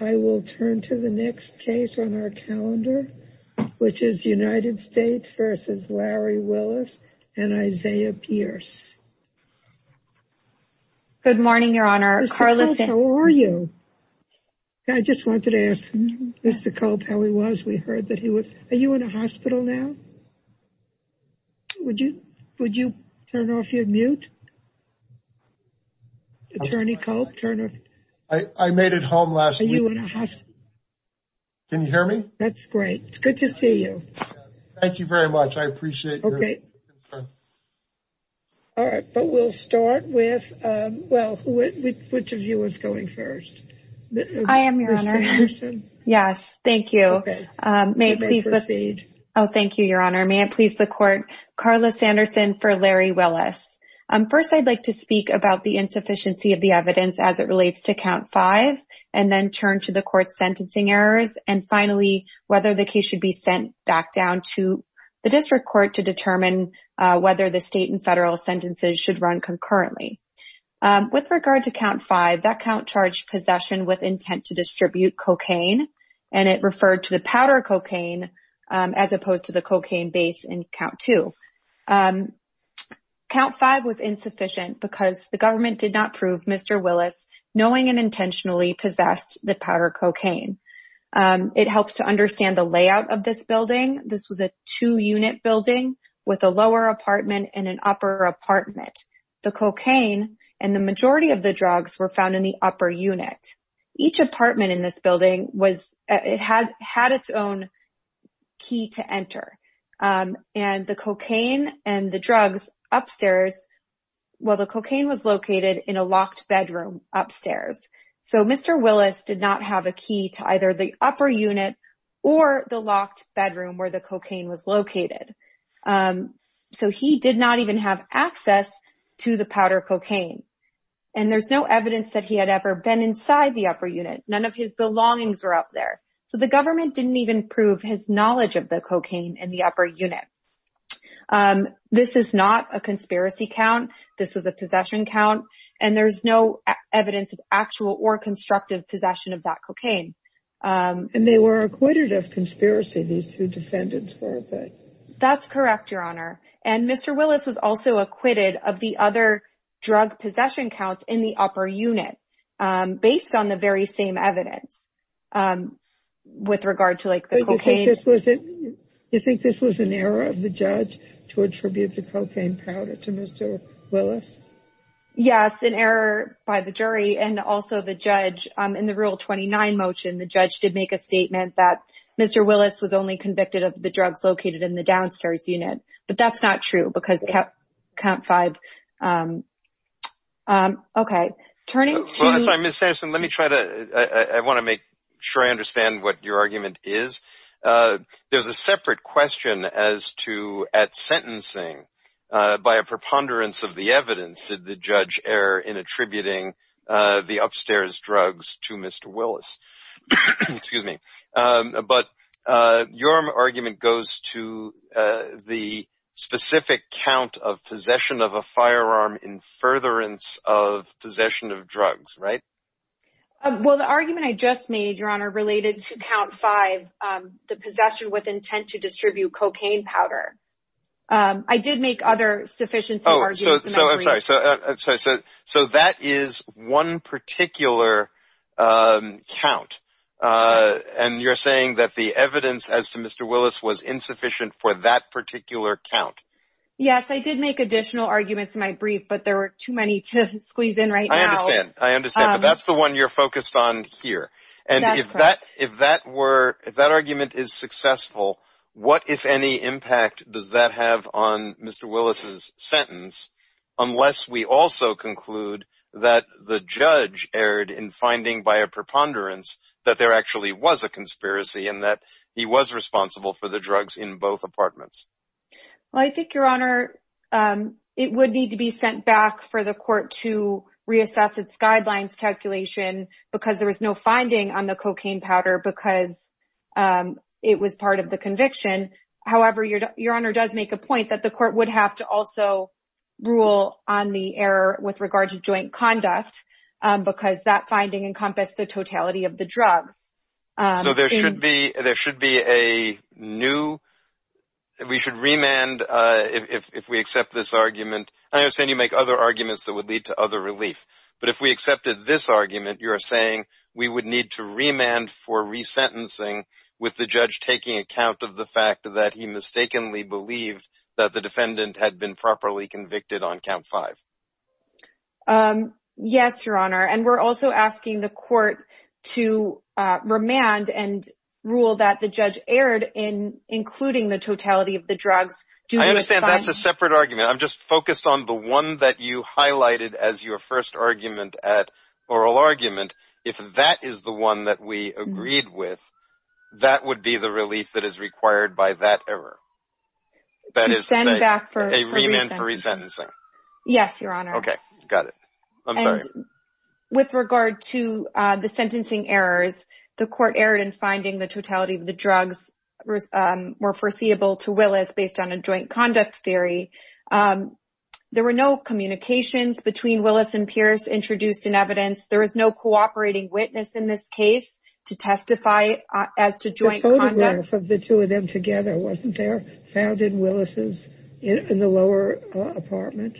I will turn to the next case on our calendar, which is United States v. Larry Willis and Isaiah Pierce. Good morning, Your Honor. Carl, how are you? I just wanted to ask Mr. Cope how he was. We heard that he was, are you in a hospital now? Would you, would you turn off your mute? Attorney Cope, turn off. I made it home last week. Are you in a hospital? Can you hear me? That's great. It's good to see you. Thank you very much. I appreciate it. Okay. All right, but we'll start with, well, which of you is going first? I am, Your Honor. Yes, thank you. May I please proceed? Oh, thank you, Your Honor. May I please the court? Carla Sanderson for Larry Willis. First, I'd like to speak about the insufficiency of the evidence as it relates to count five, and then turn to the court's sentencing errors, and finally, whether the case should be sent back down to the district court to determine whether the state and federal sentences should run concurrently. With regard to count five, that count charged possession with intent to distribute cocaine, and it referred to the powder cocaine as opposed to the cocaine base in count two. Count five was insufficient because the government did not prove Mr. Willis knowing and intentionally possessed the powder cocaine. It helps to understand the layout of this building. This was a two-unit building with a lower apartment and an upper apartment. The cocaine and the majority of the drugs were found in the upper unit. And the cocaine and the drugs upstairs, well, the cocaine was located in a locked bedroom upstairs. So, Mr. Willis did not have a key to either the upper unit or the locked bedroom where the cocaine was located. So, he did not even have access to the powder cocaine. And there's no evidence that he had ever been inside the upper unit. None of his belongings were up there. So, the government didn't even prove his knowledge of the cocaine in the upper unit. This is not a conspiracy count. This was a possession count, and there's no evidence of actual or constructive possession of that cocaine. And they were acquitted of conspiracy. These two defendants were. That's correct, Your Honor. And Mr. Willis was also acquitted of the other drug possession counts in the upper unit based on the very same evidence. With regard to, like, the cocaine. Do you think this was an error of the judge to attribute the cocaine powder to Mr. Willis? Yes, an error by the jury and also the judge. In the Rule 29 motion, the judge did make a statement that Mr. Willis was only convicted of the drugs located in the downstairs unit. But that's not true because Count 5. Okay, turning to. I'm sorry, Ms. Anderson. Let me try to I want to make sure I understand what your argument is. There's a separate question as to at sentencing by a preponderance of the evidence. Did the judge error in attributing the upstairs drugs to Mr. Willis? Excuse me, but your argument goes to the specific count of possession of a firearm in furtherance of possession of drugs. Right? Well, the argument I just made your honor related to Count 5, the possession with intent to distribute cocaine powder. I did make other sufficient. Oh, so I'm sorry. So I'm sorry. So so that is one particular count and you're saying that the evidence as to Mr. Willis was insufficient for that particular count. Yes, I did make additional arguments in my brief, but there were too many to squeeze in right now. I understand, but that's the one you're focused on here. And if that if that were if that argument is successful, what if any impact does that have on Mr. Willis's sentence? Unless we also conclude that the judge erred in finding by a preponderance that there actually was a conspiracy and that he was responsible for the drugs in both apartments. Well, I think your honor it would need to be sent back for the court to reassess its guidelines calculation because there was no finding on the cocaine powder because it was part of the conviction. However, your your honor does make a point that the court would have to also rule on the error with regard to joint conduct because that finding encompass the totality of the drugs. So there should be there should be a new we should remand if we accept this argument. I understand you make other arguments that would lead to other relief. But if we accepted this argument, you're saying we would need to remand for resentencing with the judge taking account of the fact that he mistakenly believed that the defendant had been properly convicted on count five. Yes, your honor. And we're also asking the court to remand and rule that the judge erred in including the totality of the drugs. Do I understand? That's a separate argument. I'm just focused on the one that you highlighted as your first argument at oral argument. If that is the one that we agreed with, that would be the relief that is required by that error. That is to send back for a remand for resentencing. Yes, your honor. Okay, got it. I'm sorry. With regard to the sentencing errors, the court erred in finding the totality of the drugs were foreseeable to Willis based on a joint conduct theory. There were no communications between Willis and Pierce introduced in evidence. There is no cooperating witness in this case to testify as to joint conduct of the two of them together. Wasn't there founded Willis's in the lower apartment?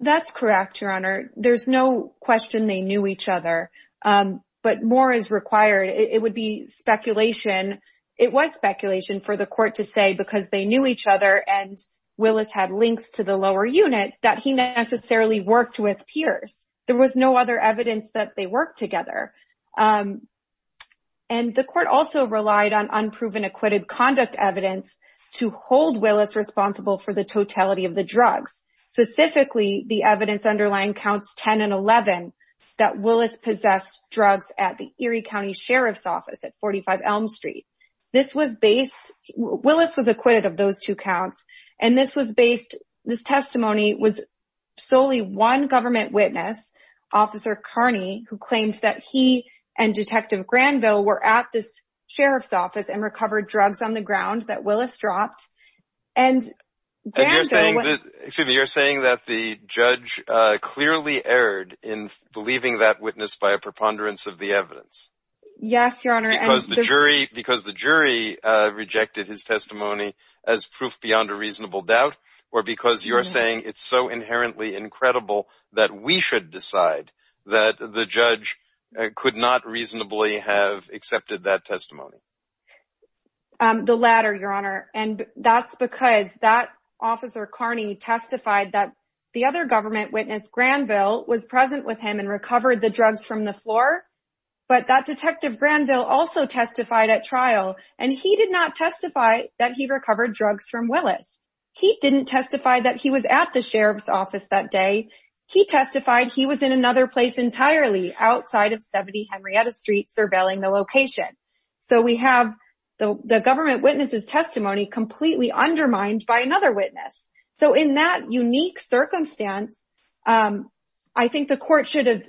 That's correct, your honor. There's no question. They knew each other, but more is required. It would be speculation. It was speculation for the court to say because they knew each other and Willis had links to the lower unit that he necessarily worked with Pierce. There was no other evidence that they work together. And the court also relied on unproven acquitted conduct evidence to hold Willis responsible for the totality of the drugs, specifically the evidence underlying counts 10 and 11 that Willis possessed drugs at the Erie County Sheriff's Office at 45 Elm Street. This was based Willis was acquitted of those two counts and this was based. This testimony was solely one government witness officer Carney who claims that he and detective Granville were at this Sheriff's Office and recovered drugs on the ground that Willis dropped and you're saying that you're saying that the judge clearly erred in believing that witness by a preponderance of the evidence. Yes, your honor. Because the jury rejected his testimony as proof beyond a reasonable doubt or because you are saying it's so inherently incredible that we should decide that the judge could not reasonably have accepted that testimony. The latter your honor and that's because that officer Carney testified that the other government witness Granville was present with him and recovered the drugs from the floor. But that detective Granville also testified at trial and he did not testify that he recovered drugs from Willis. He didn't testify that he was at the Sheriff's Office that day. He testified he was in another place entirely outside of 70 Henrietta Street surveilling the location. So we have the government witnesses testimony completely undermined by another witness. So in that unique circumstance, I think the court should have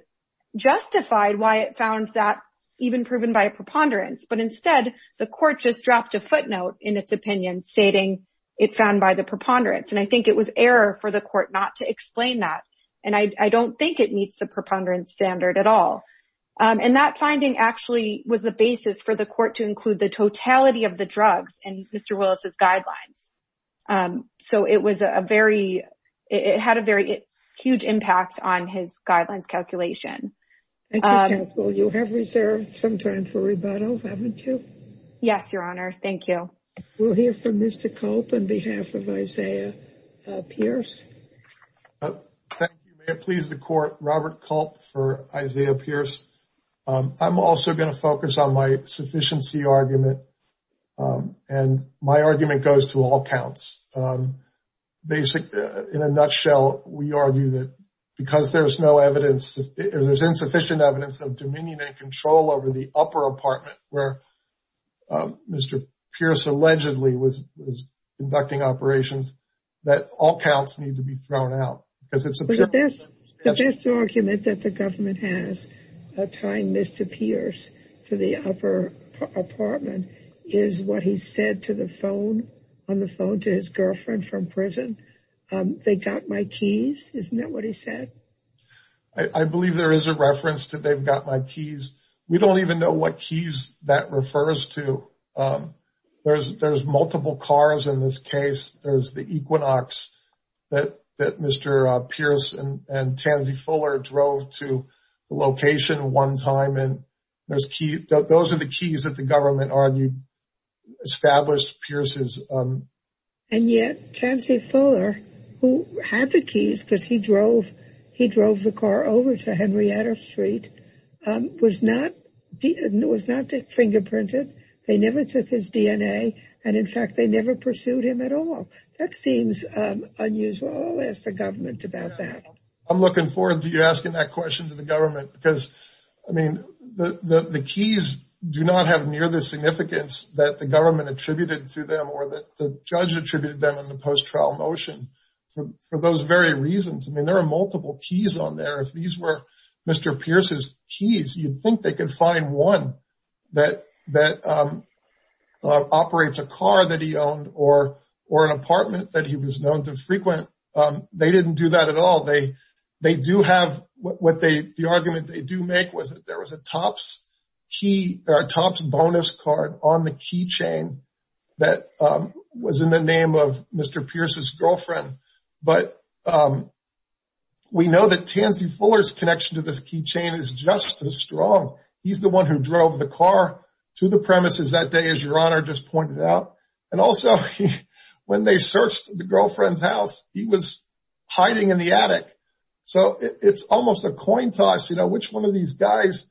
justified why it found that even proven by a preponderance. But instead the court just dropped a footnote in its opinion stating it found by the preponderance and I think it was error for the court not to explain that and I don't think it meets the preponderance standard at all. And that finding actually was the basis for the court to include the totality of the drugs and Mr. It was a very it had a very huge impact on his guidelines calculation. And so you have reserved some time for rebuttal haven't you? Yes, your honor. Thank you. We'll hear from Mr. Culp on behalf of Isaiah Pierce. Please the court Robert Culp for Isaiah Pierce. I'm also going to focus on my sufficiency argument and my argument goes to all counts. Basic in a nutshell. We argue that because there's no evidence if there's insufficient evidence of Dominion and control over the upper apartment where Mr. Pierce allegedly was conducting operations that all counts need to be thrown out because it's the best argument that the government has a time Mr. Pierce to the upper apartment is what he said to the phone on the phone to his girlfriend from prison. They got my keys. Isn't that what he said? I believe there is a reference to they've got my keys. We don't even know what keys that refers to. There's there's multiple cars in this case. There's the Equinox that that Mr. Pierce and Tansy Fuller drove to the location one time and there's key. Those are the keys that the government argued established Pierce's. And yet Tansy Fuller who had the keys because he drove he drove the car over to Henrietta Street was not it was not fingerprinted. They never took his DNA. And in fact, they never pursued him at all. That seems unusual as the government about that. I'm looking forward to you asking that question to the government because I mean the keys do not have near the significance that the government attributed to them or that the judge attributed them in the post trial motion for those very reasons. I mean, there are multiple keys on there. If these were Mr. Pierce's keys, you'd think they could find one that that operates a car that he owned or or an apartment that he was known to frequent. They didn't do that at all. They they do have what they the argument they do make was that there was a Topps key or a Topps bonus card on the key chain that was in the name of Mr. Pierce's girlfriend. But we know that Tansy Fuller's connection to this key chain is just as strong. He's the one who drove the car to the premises that day as your honor just pointed out. And also when they searched the girlfriend's house, he was hiding in the attic. So it's almost a coin toss, you know, which one of these guys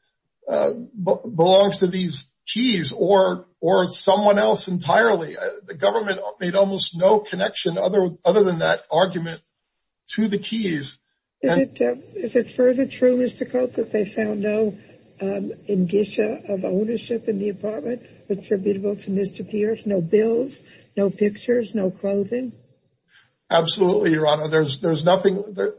belongs to these keys or or someone else entirely. The government made almost no connection other other than that argument to the keys. Is it further true, Mr. Koch, that they found no indicia of ownership in the apartment attributable to Mr. Pierce? No bills, no pictures, no clothing. Absolutely, your honor. There's there's nothing there.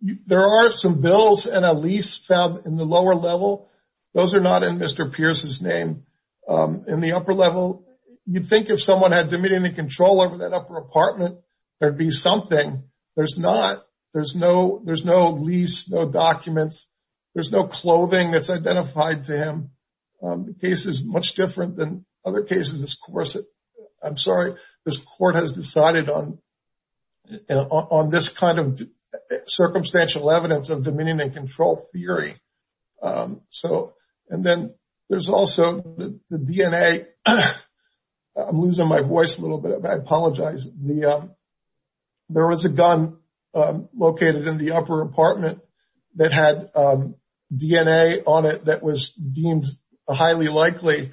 There are some bills and a lease found in the lower level. Those are not in Mr. Pierce's name in the upper level. You'd think if someone had dominion and control over that upper apartment, there'd be something. There's not. There's no there's no lease, no documents. There's no clothing that's identified to him. The case is much different than other cases. This course, I'm sorry. This court has decided on on this kind of circumstantial evidence of dominion and control theory. So and then there's also the DNA. I'm losing my voice a little bit. I apologize. The there was a gun located in the upper apartment that had DNA on it that was deemed highly likely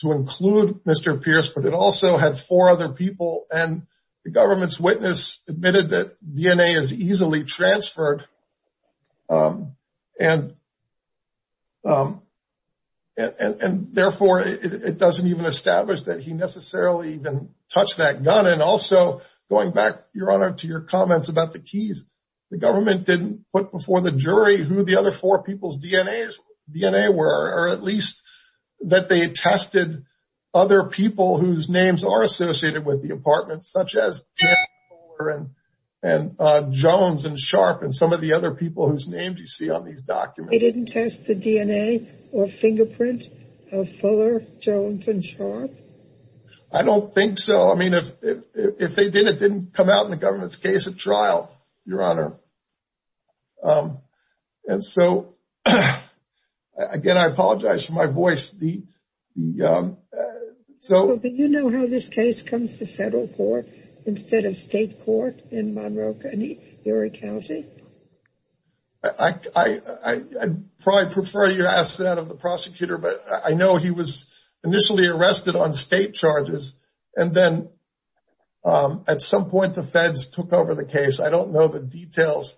to include Mr. Pierce. But it also had four other people and the government's witness admitted that DNA is easily transferred. And therefore, it doesn't even establish that he necessarily even touched that gun. And also going back, your honor, to your comments about the keys. The government didn't put before the jury who the other four people's DNA DNA were, or at least that they tested other people whose names are associated with the apartment, such as Taylor and Jones and Sharpe and some of the other people whose names you see on these documents. They didn't test the DNA or fingerprint of Fuller, Jones and Sharpe? I don't think so. I mean, if they did, it didn't come out in the government's case at trial, your honor. And so again, I apologize for my voice. The so you know how this case comes to federal court instead of state court in Monroe County. I probably prefer you ask that of the prosecutor, but I know he was initially arrested on state charges and then at some point the feds took over the case. I don't know the details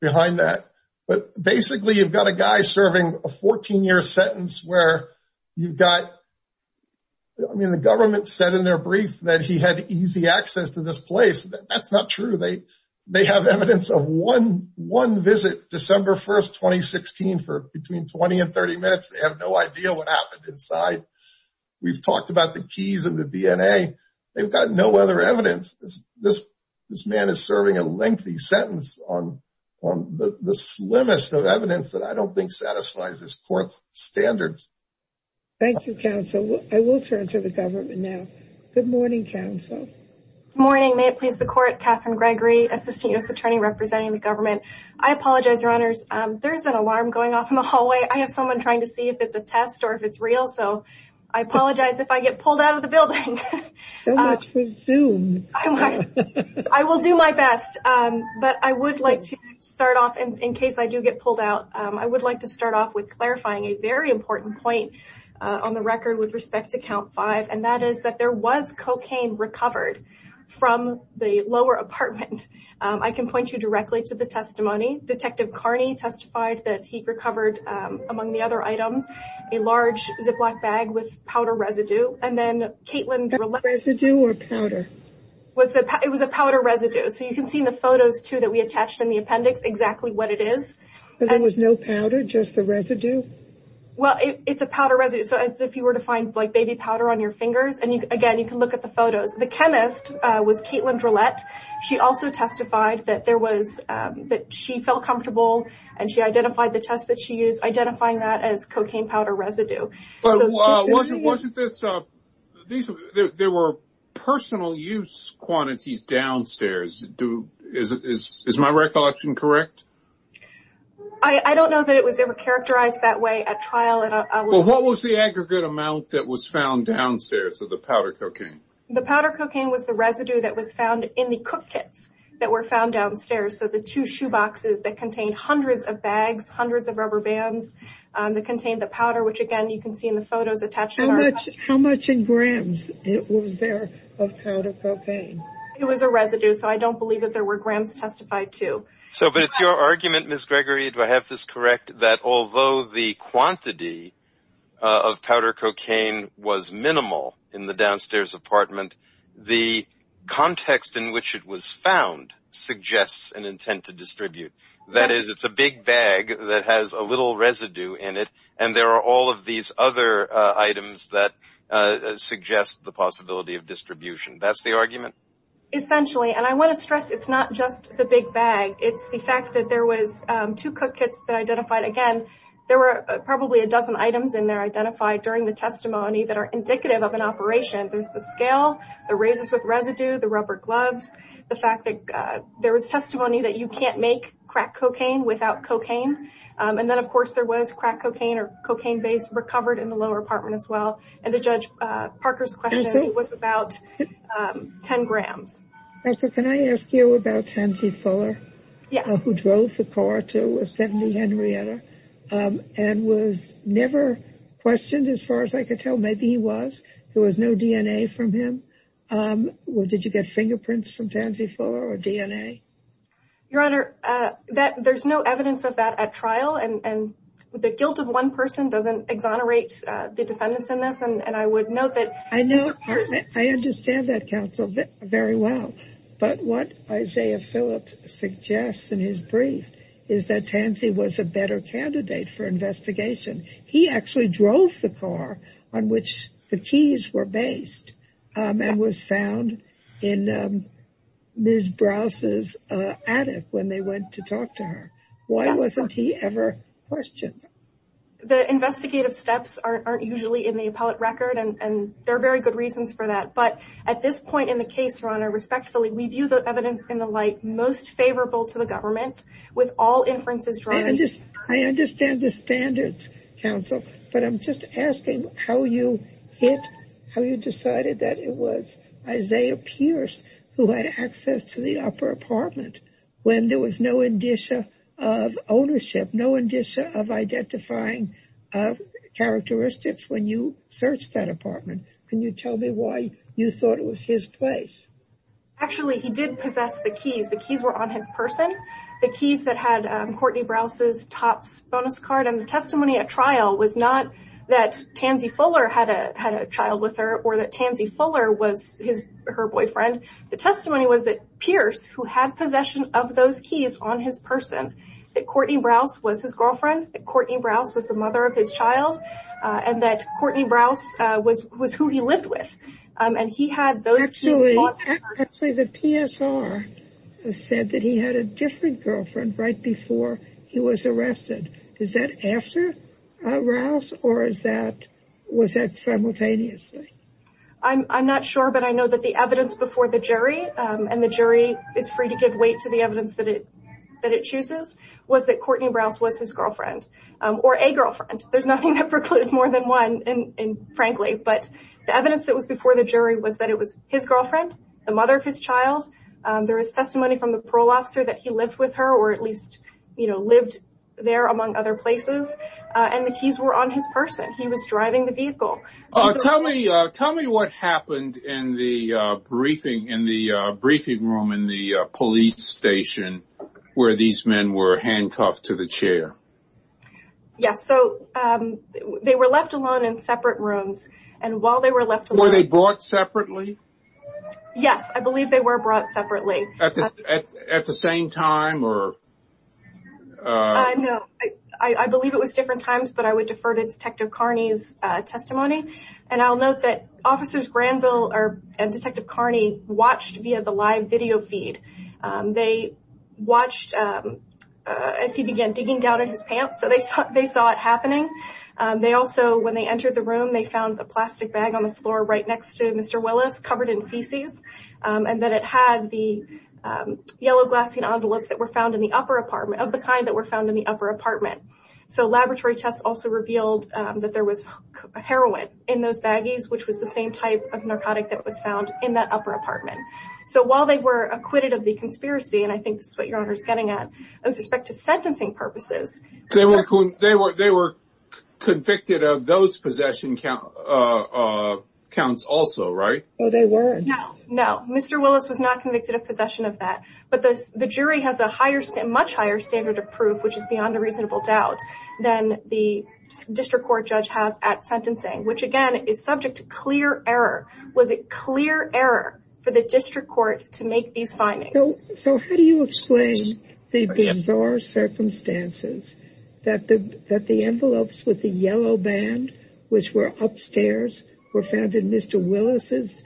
behind that, but basically you've got a guy serving a 14 year sentence where you've got. I mean, the government said in their brief that he had easy access to this place. That's not true. They have evidence of one visit, December 1st, 2016 for between 20 and 30 minutes. They have no idea what happened inside. We've talked about the keys of the DNA. They've got no other evidence. This man is serving a lengthy sentence on the slimmest of evidence that I don't think satisfies this court's standards. Thank you, counsel. I will turn to the government now. Good morning, counsel. Good morning. May it please the court. Catherine Gregory, assistant U.S. attorney representing the government. I apologize, your honors. There's an alarm going off in the hallway. I have someone trying to see if it's a test or if it's real. So I apologize if I get pulled out of the building. So much for Zoom. I will do my best, but I would like to start off in case I do get pulled out. I would like to start off with clarifying a very important point on the record with respect to count five. And that is that there was cocaine recovered from the lower apartment. I can point you directly to the testimony. Detective Carney testified that he recovered, among the other items, a large Ziploc bag with powder residue. And then Caitlin... Powder residue or powder? It was a powder residue. So you can see in the photos, too, that we attached in the appendix exactly what it is. There was no powder, just the residue? Well, it's a powder residue. So as if you were to find, like, baby powder on your fingers. And again, you can look at the photos. The chemist was Caitlin Drillette. She also testified that she felt comfortable and she identified the test that she used, identifying that as cocaine powder residue. But wasn't this... There were personal use quantities downstairs. Is my recollection correct? I don't know that it was ever characterized that way at trial. Well, what was the aggregate amount that was found downstairs of the powder cocaine? The powder cocaine was the residue that was found in the cook kits that were found downstairs. So the two shoeboxes that contained hundreds of bags, hundreds of rubber bands that contained the powder, which, again, you can see in the photos attached... How much in grams was there of powder cocaine? It was a residue. So I don't believe that there were grams testified, too. So but it's your argument, Ms. Gregory. Do I have this correct? That although the quantity of powder cocaine was minimal in the downstairs apartment, the context in which it was found suggests an intent to distribute. That is, it's a big bag that has a little residue in it. And there are all of these other items that suggest the possibility of distribution. That's the argument? Essentially. And I want to stress, it's not just the big bag. It's the fact that there was two cook kits that identified, again, there were probably a dozen items in there identified during the testimony that are indicative of an operation. There's the scale, the razors with residue, the rubber gloves, the fact that there was testimony that you can't make crack cocaine without cocaine. And then, of course, there was crack cocaine or cocaine based recovered in the lower apartment as well. And to Judge Parker's question, it was about 10 grams. Counsel, can I ask you about Tansy Fuller, who drove the car to a 70 Henrietta and was never questioned? As far as I could tell, maybe he was. There was no DNA from him. Did you get fingerprints from Tansy Fuller or DNA? Your Honor, there's no evidence of that at trial. And the guilt of one person doesn't exonerate the defendants in this. And I would note that I know I understand that counsel very well. But what Isaiah Phillips suggests in his brief is that Tansy was a better candidate for investigation. He actually drove the car on which the keys were based and was found in Ms. Browse's attic when they went to talk to her. Why wasn't he ever questioned? The investigative steps aren't usually in the appellate record, and there are very good reasons for that. But at this point in the case, Your Honor, respectfully, we view the evidence in the light most favorable to the government with all inferences. I understand the standards, counsel, but I'm just asking how you hit, how you decided that it was Isaiah Pierce who had access to the upper apartment when there was no indicia of ownership, no indicia of identifying characteristics when you searched that apartment. Can you tell me why you thought it was his place? Actually, he did possess the keys. The keys were on his person, the keys that had Courtney Browse's Topps bonus card. And the testimony at trial was not that Tansy Fuller had a child with her or that Tansy Fuller was her boyfriend. The testimony was that Pierce, who had possession of those keys on his person, that Courtney Browse was his girlfriend, that Courtney Browse was the mother of his child and that Courtney Browse was who he lived with. And he had those keys. Actually, the PSR said that he had a different girlfriend right before he was arrested. Is that after Browse or was that simultaneously? I'm not sure, but I know that the evidence before the jury and the jury is free to give weight to the evidence that it that it chooses was that Courtney Browse was his girlfriend or a girlfriend. There's nothing that precludes more than one. And frankly, but the evidence that was before the jury was that it was his girlfriend, the mother of his child. There is testimony from the parole officer that he lived with her or at least, you know, lived there, among other places. And the keys were on his person. He was driving the vehicle. Tell me tell me what happened in the briefing, in the briefing room, in the police station where these men were handcuffed to the chair. Yes. So they were left alone in separate rooms. And while they were left, were they brought separately? Yes, I believe they were brought separately at the same time. Or no, I believe it was different times, but I would defer to Detective Carney's testimony. And I'll note that officers Granville and Detective Carney watched via the live video feed. They watched as he began digging down in his pants. So they thought they saw it happening. They also when they entered the room, they found a plastic bag on the floor right next to Mr. Willis covered in feces. And then it had the yellow glassy envelopes that were found in the upper apartment of the kind that were found in the upper apartment. So laboratory tests also revealed that there was heroin in those baggies, which was the same type of narcotic that was found in that upper apartment. So while they were acquitted of the conspiracy, and I think this is what your honor is getting at with respect to sentencing purposes. They were they were convicted of those possession counts also, right? Oh, they were. No, no. Mr. Willis was not convicted of possession of that. But the jury has a much higher standard of proof, which is beyond a reasonable doubt, than the district court judge has at sentencing, which again is subject to clear error. Was it clear error for the district court to make these findings? So how do you explain the bizarre circumstances that the that the envelopes with the yellow band, which were upstairs, were found in Mr. Willis's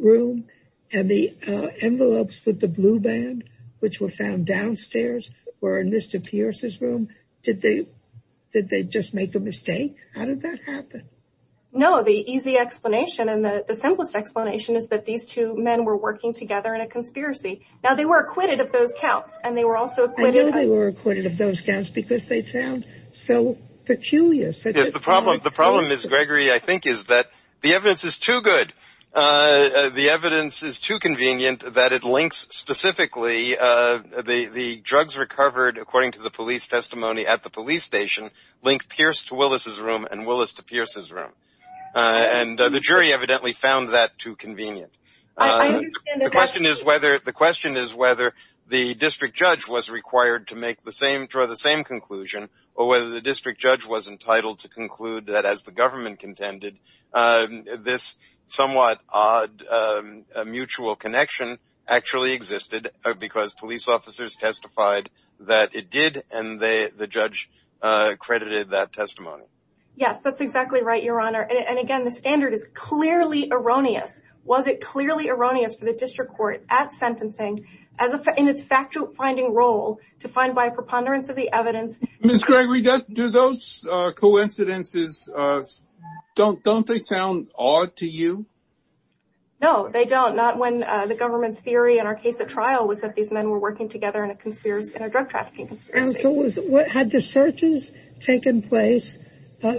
room and the envelopes with the blue band, which were found downstairs or in Mr. Pierce's room? Did they did they just make a mistake? How did that happen? No, the easy explanation and the simplest explanation is that these two men were working together in a conspiracy. Now, they were acquitted of those counts and they were also acquitted. They were acquitted of those counts because they sound so peculiar. So the problem, the problem is, Gregory, I think is that the evidence is too good. The evidence is too convenient that it links specifically the drugs recovered, according to the police testimony at the police station. Link Pierce to Willis's room and Willis to Pierce's room. And the jury evidently found that too convenient. The question is whether the question is whether the district judge was required to make the same draw the same conclusion or whether the district judge was entitled to conclude that as the government contended this somewhat odd mutual connection actually existed because police officers testified that it did and they the judge credited that testimony. Yes, that's exactly right. Your Honor. And again, the standard is clearly erroneous. Was it clearly erroneous for the district court at sentencing as a in its factual finding role to find by preponderance of the evidence? Ms. Gregory does do those coincidences don't don't they sound odd to you? No, they don't not when the government's theory in our case at trial was that these men were working together in a drug trafficking and so was what had the searches taken place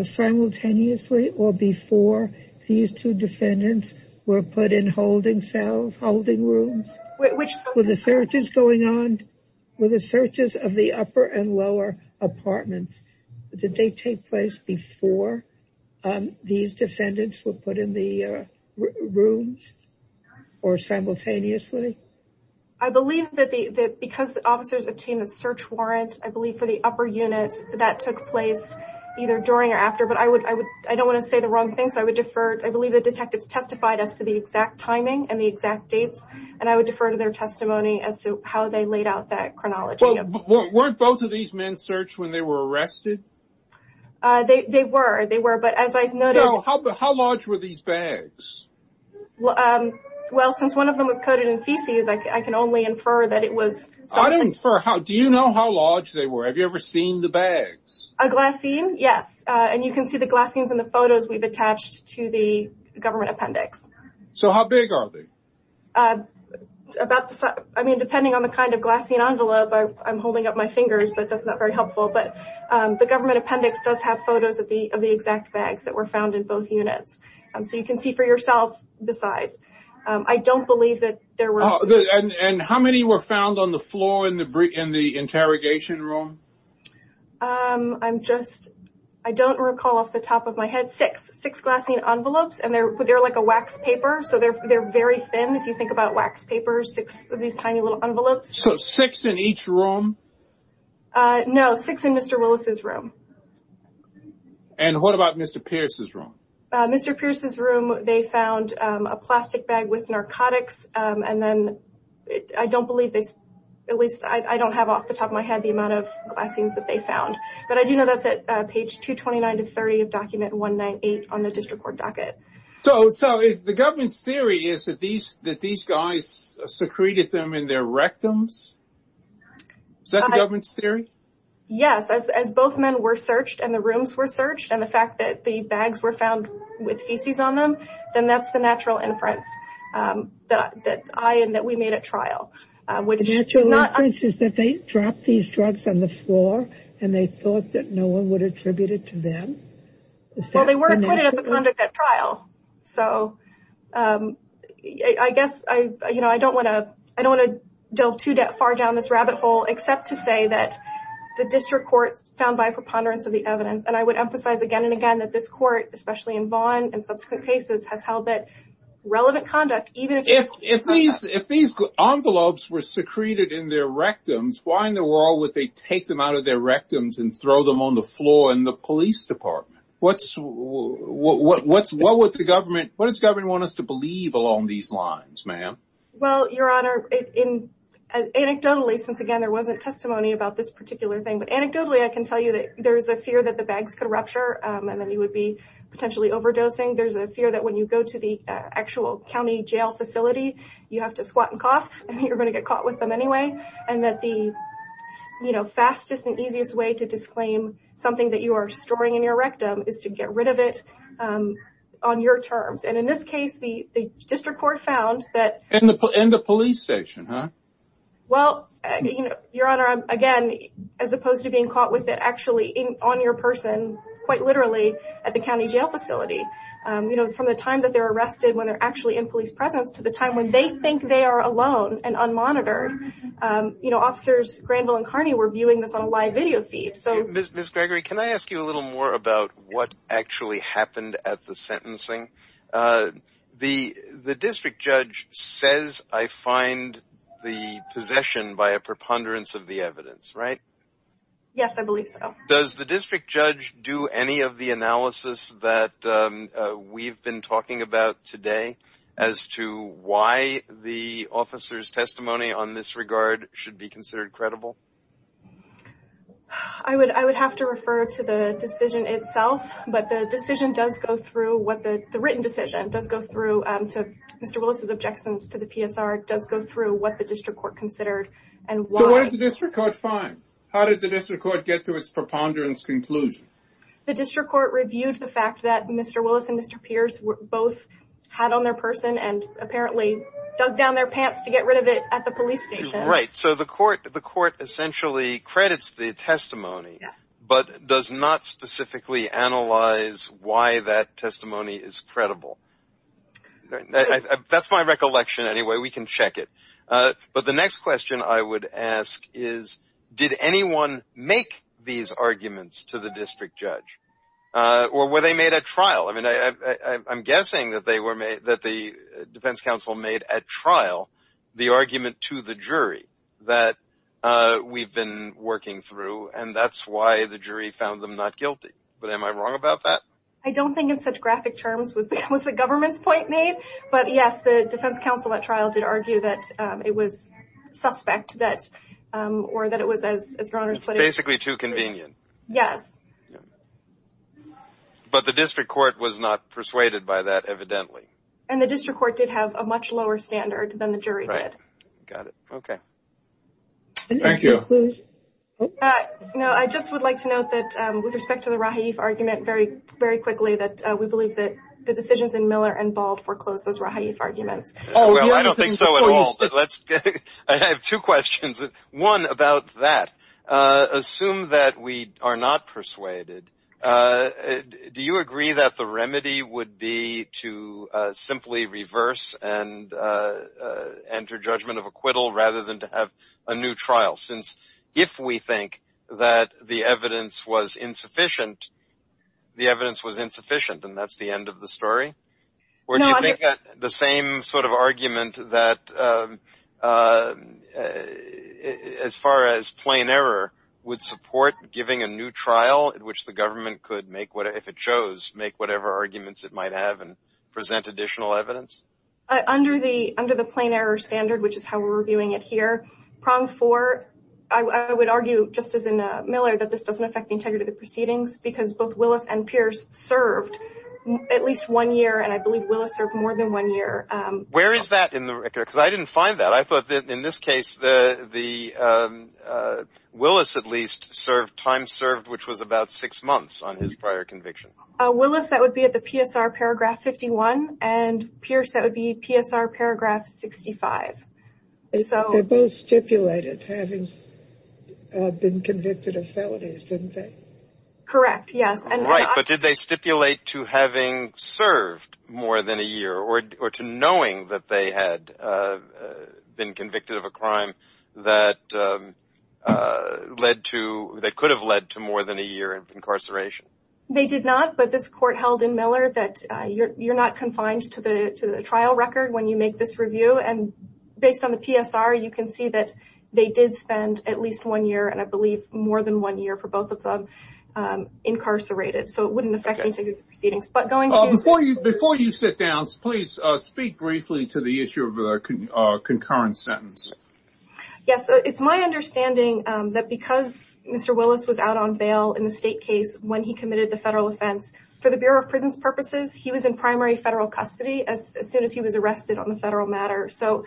simultaneously or before these two defendants were put in holding cells, holding rooms, which were the searches going on with the searches of the upper and lower apartments. Did they take place before these defendants were put in the rooms or simultaneously? I believe that the that because the officers obtained a search warrant, I believe for the upper units that took place either during or after. But I would I would I don't want to say the wrong thing. So I would defer. I believe the detectives testified as to the exact timing and the exact dates and I would defer to their testimony as to how they laid out that chronology. Weren't both of these men searched when they were arrested? They were they were but as I know how how large were these bags? Well, since one of them was coated in feces, I can only infer that it was. I don't infer how do you know how large they were? Have you ever seen the bags? A glassine? Yes, and you can see the glassines in the photos we've attached to the government appendix. So how big are they? About the size. I mean, depending on the kind of glassine envelope, I'm holding up my fingers, but that's not very helpful. But the government appendix does have photos of the of the exact bags that were found in both units. So you can see for yourself the size. I don't believe that there were. And how many were found on the floor in the in the interrogation room? I'm just I don't recall off the top of my head six six glassine envelopes and they're they're like a wax paper. So they're very thin. If you think about wax paper, six of these tiny little envelopes. So six in each room? No, six in Mr. Willis's room. And what about Mr. Pierce's room? Mr. Pierce's room, they found a plastic bag with narcotics. And then I don't believe this, at least I don't have off the top of my head the amount of glassines that they found. But I do know that's at page 229 to 30 of document 198 on the district court docket. So so is the government's theory is that these that these guys secreted them in their rectums? Is that the government's theory? Yes, as both men were searched and the rooms were searched and the fact that the bags were found with feces on them, then that's the natural inference that I and that we made at trial, which is not. Is that they dropped these drugs on the floor and they thought that no one would attribute it to them? Well, they were acquitted of the conduct at trial. So I guess I you know, I don't want to I don't want to delve too far down this rabbit hole, except to say that the district courts found by preponderance of the evidence. And I would emphasize again and again that this court, especially in Vaughn and subsequent cases, has held that relevant conduct, even if if these if these envelopes were secreted in their rectums, why in the world would they take them out of their rectums and throw them on the floor in the police department? What's what's what would the government what does government want us to believe along these lines, ma'am? Well, your honor, in anecdotally, since again, there wasn't testimony about this particular thing. But anecdotally, I can tell you that there is a fear that the bags could rupture and then you would be potentially overdosing. There's a fear that when you go to the actual county jail facility, you have to squat and cough and you're going to get caught with them anyway. And that the, you know, fastest and easiest way to disclaim something that you are storing in your rectum is to get rid of it on your terms. And in this case, the district court found that in the police station. Well, your honor, again, as opposed to being caught with it actually on your person, quite literally at the county jail facility, you know, from the time that they're arrested, when they're actually in police presence to the time when they think they are alone and unmonitored, you know, officers Granville and Carney were viewing this on a live video feed. So, Ms. Gregory, can I ask you a little more about what actually happened at the sentencing? The district judge says, I find the possession by a preponderance of the evidence, right? Yes, I believe so. Does the district judge do any of the analysis that we've been talking about today as to why the officer's testimony on this regard should be considered credible? I would have to refer to the decision itself. But the written decision does go through Mr. Willis' objections to the PSR. It does go through what the district court considered and why. So what did the district court find? How did the district court get to its preponderance conclusion? The district court reviewed the fact that Mr. Willis and Mr. Pierce both had on their person and apparently dug down their pants to get rid of it at the police station. Right. So the court essentially credits the testimony, but does not specifically analyze why that testimony is credible. That's my recollection anyway. We can check it. But the next question I would ask is, did anyone make these arguments to the district judge? Or were they made at trial? I mean, I'm guessing that the defense counsel made at trial the argument to the jury that we've been working through and that's why the jury found them not guilty. But am I wrong about that? I don't think in such graphic terms was the government's point made. But yes, the defense counsel at trial did argue that it was suspect or that it was, as your Honor's putting it... It's basically too convenient. Yes. But the district court was not persuaded by that evidently. And the district court did have a much lower standard than the jury did. Right. Got it. Okay. Thank you. No, I just would like to note that with respect to the Rahif argument very quickly that we believe that the decisions in Miller and Bald foreclosed those Rahif arguments. Well, I don't think so at all, but let's... I have two questions. One about that. Assume that we are not persuaded. Do you agree that the remedy would be to simply reverse and enter judgment of acquittal rather than to have a new trial? Since if we think that the evidence was insufficient, the evidence was insufficient and that's the end of the story? Or do you think that the same sort of argument that as far as plain error would support giving a new trial in which the government could make, if it chose, make whatever arguments it might have and present additional evidence? Under the plain error standard, which is how we're reviewing it here, prong four, I would argue just as in Miller, that this doesn't affect the integrity of proceedings because both Willis and Pierce served at least one year and I believe Willis served more than one year. Where is that in the record? Because I didn't find that. I thought that in this case the Willis at least served time served which was about six months on his prior conviction. Willis, that would be at the PSR paragraph 51 and Pierce, that would be PSR paragraph 65. They both stipulated having been convicted of felonies, didn't they? Correct, yes. Right, but did they stipulate to having served more than a year or to knowing that they had been convicted of a crime that led to, that could have led to more than a year of incarceration? They did not, but this court held in Miller that you're not confined to the trial record when you make this review and based on the PSR, you can see that they did spend at least one year and I believe more than one year for both of them incarcerated. So it wouldn't affect integrity of proceedings. Before you sit down, please speak briefly to the issue of the concurrent sentence. Yes, it's my understanding that because Mr. Willis was out on bail in the state case, when he committed the federal offense, for the Bureau of Prisons purposes, he was in primary federal custody as soon as he was arrested on the federal matter. So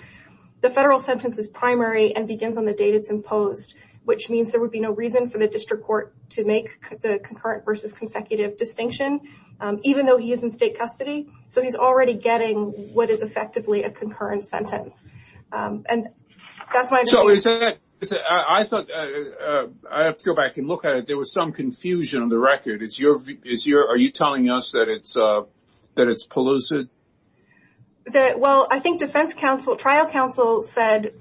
the federal sentence is primary and begins on the date it's imposed, which means there would be no reason for the district court to make the concurrent versus consecutive distinction even though he is in state custody. So he's already getting what is effectively a concurrent sentence and that's my understanding. So is that, I thought, I have to go back and look at it. There was some confusion on the record. Are you telling us that it's pellucid? Well, I think defense counsel, trial counsel said,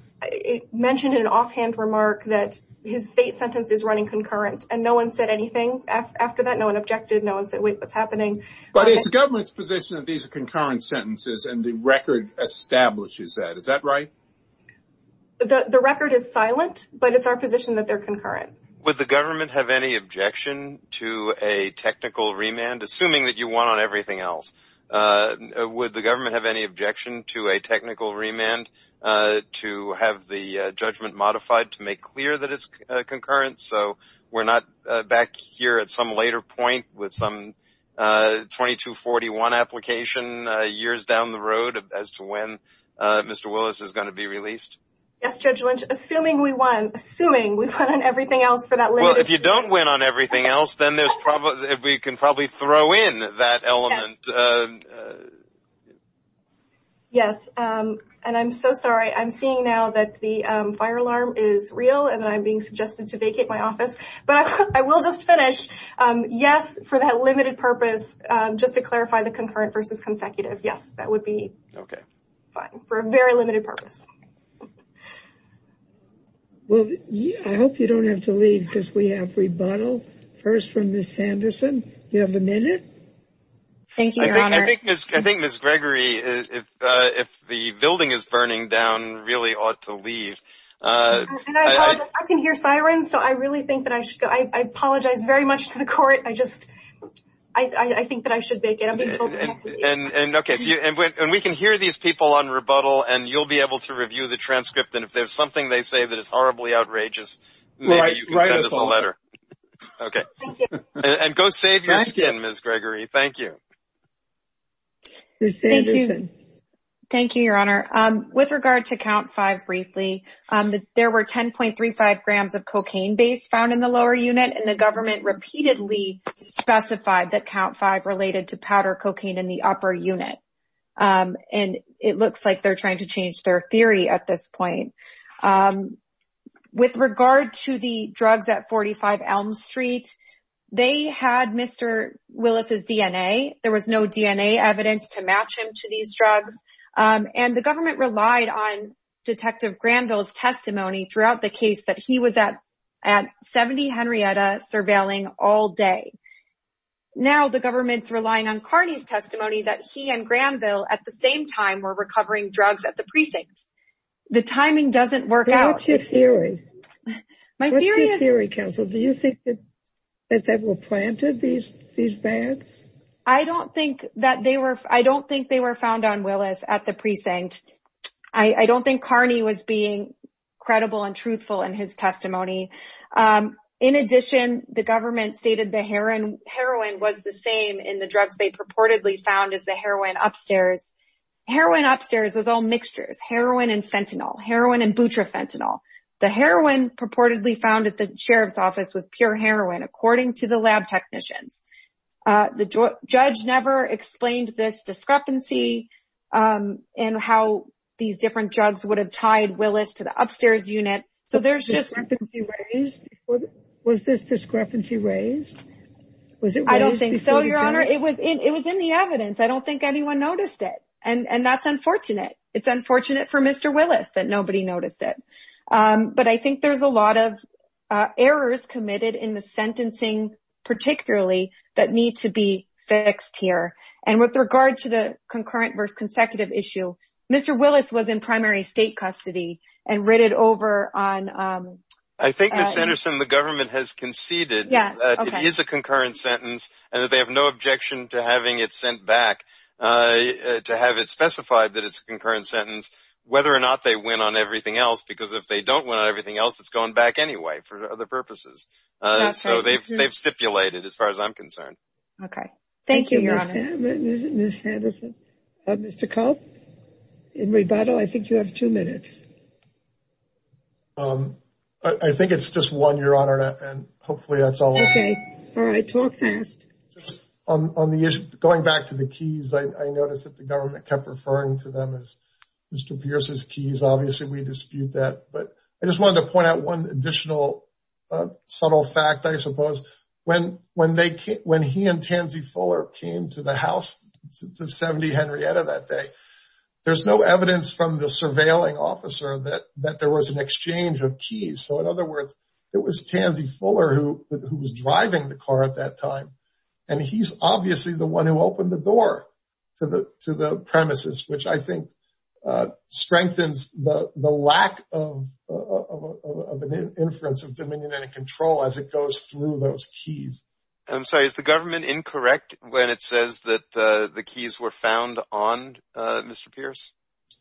mentioned in an offhand remark that his state sentence is running concurrent and no one said anything after that. No one objected. No one said, wait, what's happening? But it's the government's position that these are concurrent sentences and the record establishes that. Is that right? The record is silent, but it's our position that they're concurrent. Would the government have any objection to a technical remand? Assuming that you won on everything else, would the government have any objection to a technical remand to have the judgment modified to make clear that it's concurrent so we're not back here at some later point with some 2241 application years down the road as to when Mr. Willis is going to be released? Yes, Judge Lynch, assuming we won. Assuming we won on everything else for that limited purpose. Well, if you don't win on everything else, then we can probably throw in that element. Yes, and I'm so sorry. I'm seeing now that the fire alarm is real and I'm being suggested to vacate my office. But I will just finish. Yes, for that limited purpose, just to clarify the concurrent versus consecutive. Yes, that would be fine for a very limited purpose. Well, I hope you don't have to leave because we have rebuttal. First from Ms. Sanderson. Do you have a minute? Thank you, Your Honor. I think Ms. Gregory, if the building is burning down, really ought to leave. And I apologize. I can hear sirens, so I really think that I should go. I apologize very much to the court. I just think that I should vacate. I'm being told not to leave. And we can hear these people on rebuttal, and you'll be able to review the transcript. And if there's something they say that is horribly outrageous, maybe you can send us a letter. Okay. And go save your skin, Ms. Gregory. Thank you. Ms. Sanderson. Thank you, Your Honor. With regard to count five briefly, there were 10.35 grams of cocaine base found in the lower unit. And the government repeatedly specified that count five related to powder cocaine in the upper unit. And it looks like they're trying to change their theory at this point. With regard to the drugs at 45 Elm Street, they had Mr. Willis's DNA. There was no DNA evidence to match him to these drugs. And the government relied on Detective Granville's testimony throughout the case that he was at 70 Henrietta surveilling all day. Now the government's relying on Carney's testimony that he and Granville at the same time were recovering drugs at the precinct. The timing doesn't work out. What's your theory? What's your theory, counsel? Do you think that they were planted, these bags? I don't think that they were. I don't think they were found on Willis at the precinct. I don't think Carney was being credible and truthful in his testimony. In addition, the government stated the heroin was the same in the drugs they purportedly found as the heroin upstairs. Heroin upstairs was all mixtures. Heroin and fentanyl. Heroin and butrafentanil. The heroin purportedly found at the sheriff's office was pure heroin, according to the lab technicians. The judge never explained this discrepancy and how these different drugs would have tied Willis to the upstairs unit. Was this discrepancy raised? I don't think so, Your Honor. It was in the evidence. I don't think anyone noticed it. And that's unfortunate. It's unfortunate for Mr. Willis that nobody noticed it. But I think there's a lot of errors committed in the sentencing, particularly, that need to be fixed here. And with regard to the concurrent versus consecutive issue, Mr. Willis was in primary state custody and written over on... I think, Ms. Anderson, the government has conceded that it is a concurrent sentence and that they have no objection to having it sent back, to have it specified that it's a concurrent sentence, whether or not they win on everything else. Because if they don't win on everything else, it's going back anyway for other purposes. So they've stipulated, as far as I'm concerned. Okay. Thank you, Your Honor. Ms. Anderson. Mr. Culp, in rebuttal, I think you have two minutes. I think it's just one, Your Honor, and hopefully that's all. Okay. All right. Talk fast. Going back to the keys, I noticed that the government kept referring to them as Mr. Pierce's keys. Obviously, we dispute that. But I just wanted to point out one additional subtle fact, I suppose. When he and Tansy Fuller came to the house, to 70 Henrietta that day, there's no evidence from the surveilling officer that there was an exchange of keys. So in other words, it was Tansy Fuller who was driving the car at that time. And he's obviously the one who opened the door to the premises, which I think strengthens the lack of an inference of dominion and control as it goes through those keys. I'm sorry. Is the government incorrect when it says that the keys were found on Mr. Pierce?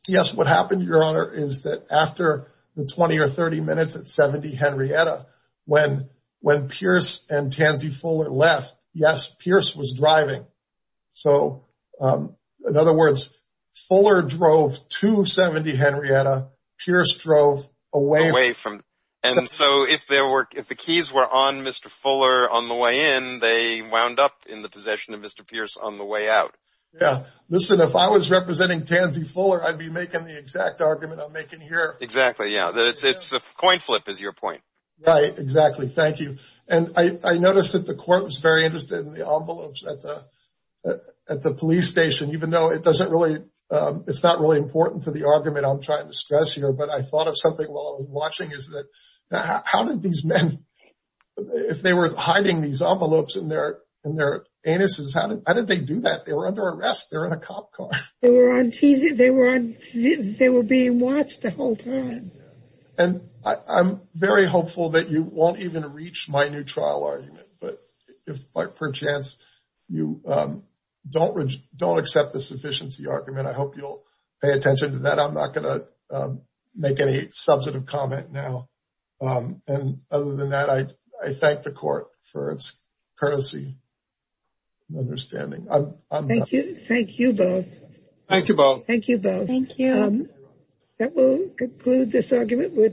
Yes. What happened, Your Honor, is that after the 20 or 30 minutes at 70 Henrietta, when Pierce and Tansy Fuller left, yes, Pierce was driving. So in other words, Fuller drove to 70 Henrietta. Pierce drove away. Away from. And so if the keys were on Mr. Fuller on the way in, they wound up in the possession of Mr. Pierce on the way out. Yeah. Listen, if I was representing Tansy Fuller, I'd be making the exact argument I'm making here. Exactly, yeah. It's a coin flip is your point. Right. Exactly. Thank you. And I noticed that the court was very interested in the envelopes at the police station, even though it doesn't really, it's not really important to the argument I'm trying to stress here. But I thought of something while I was watching is that how did these men, if they were hiding these envelopes in their anuses, how did they do that? They were under arrest. They were in a cop car. They were on TV. They were being watched the whole time. And I'm very hopeful that you won't even reach my new trial argument. But if by chance you don't accept the sufficiency argument, I hope you'll pay attention to that. I'm not going to make any substantive comment now. And other than that, I thank the court for its courtesy and understanding. Thank you. Thank you both. Thank you both. Thank you both. Thank you. That will conclude this argument.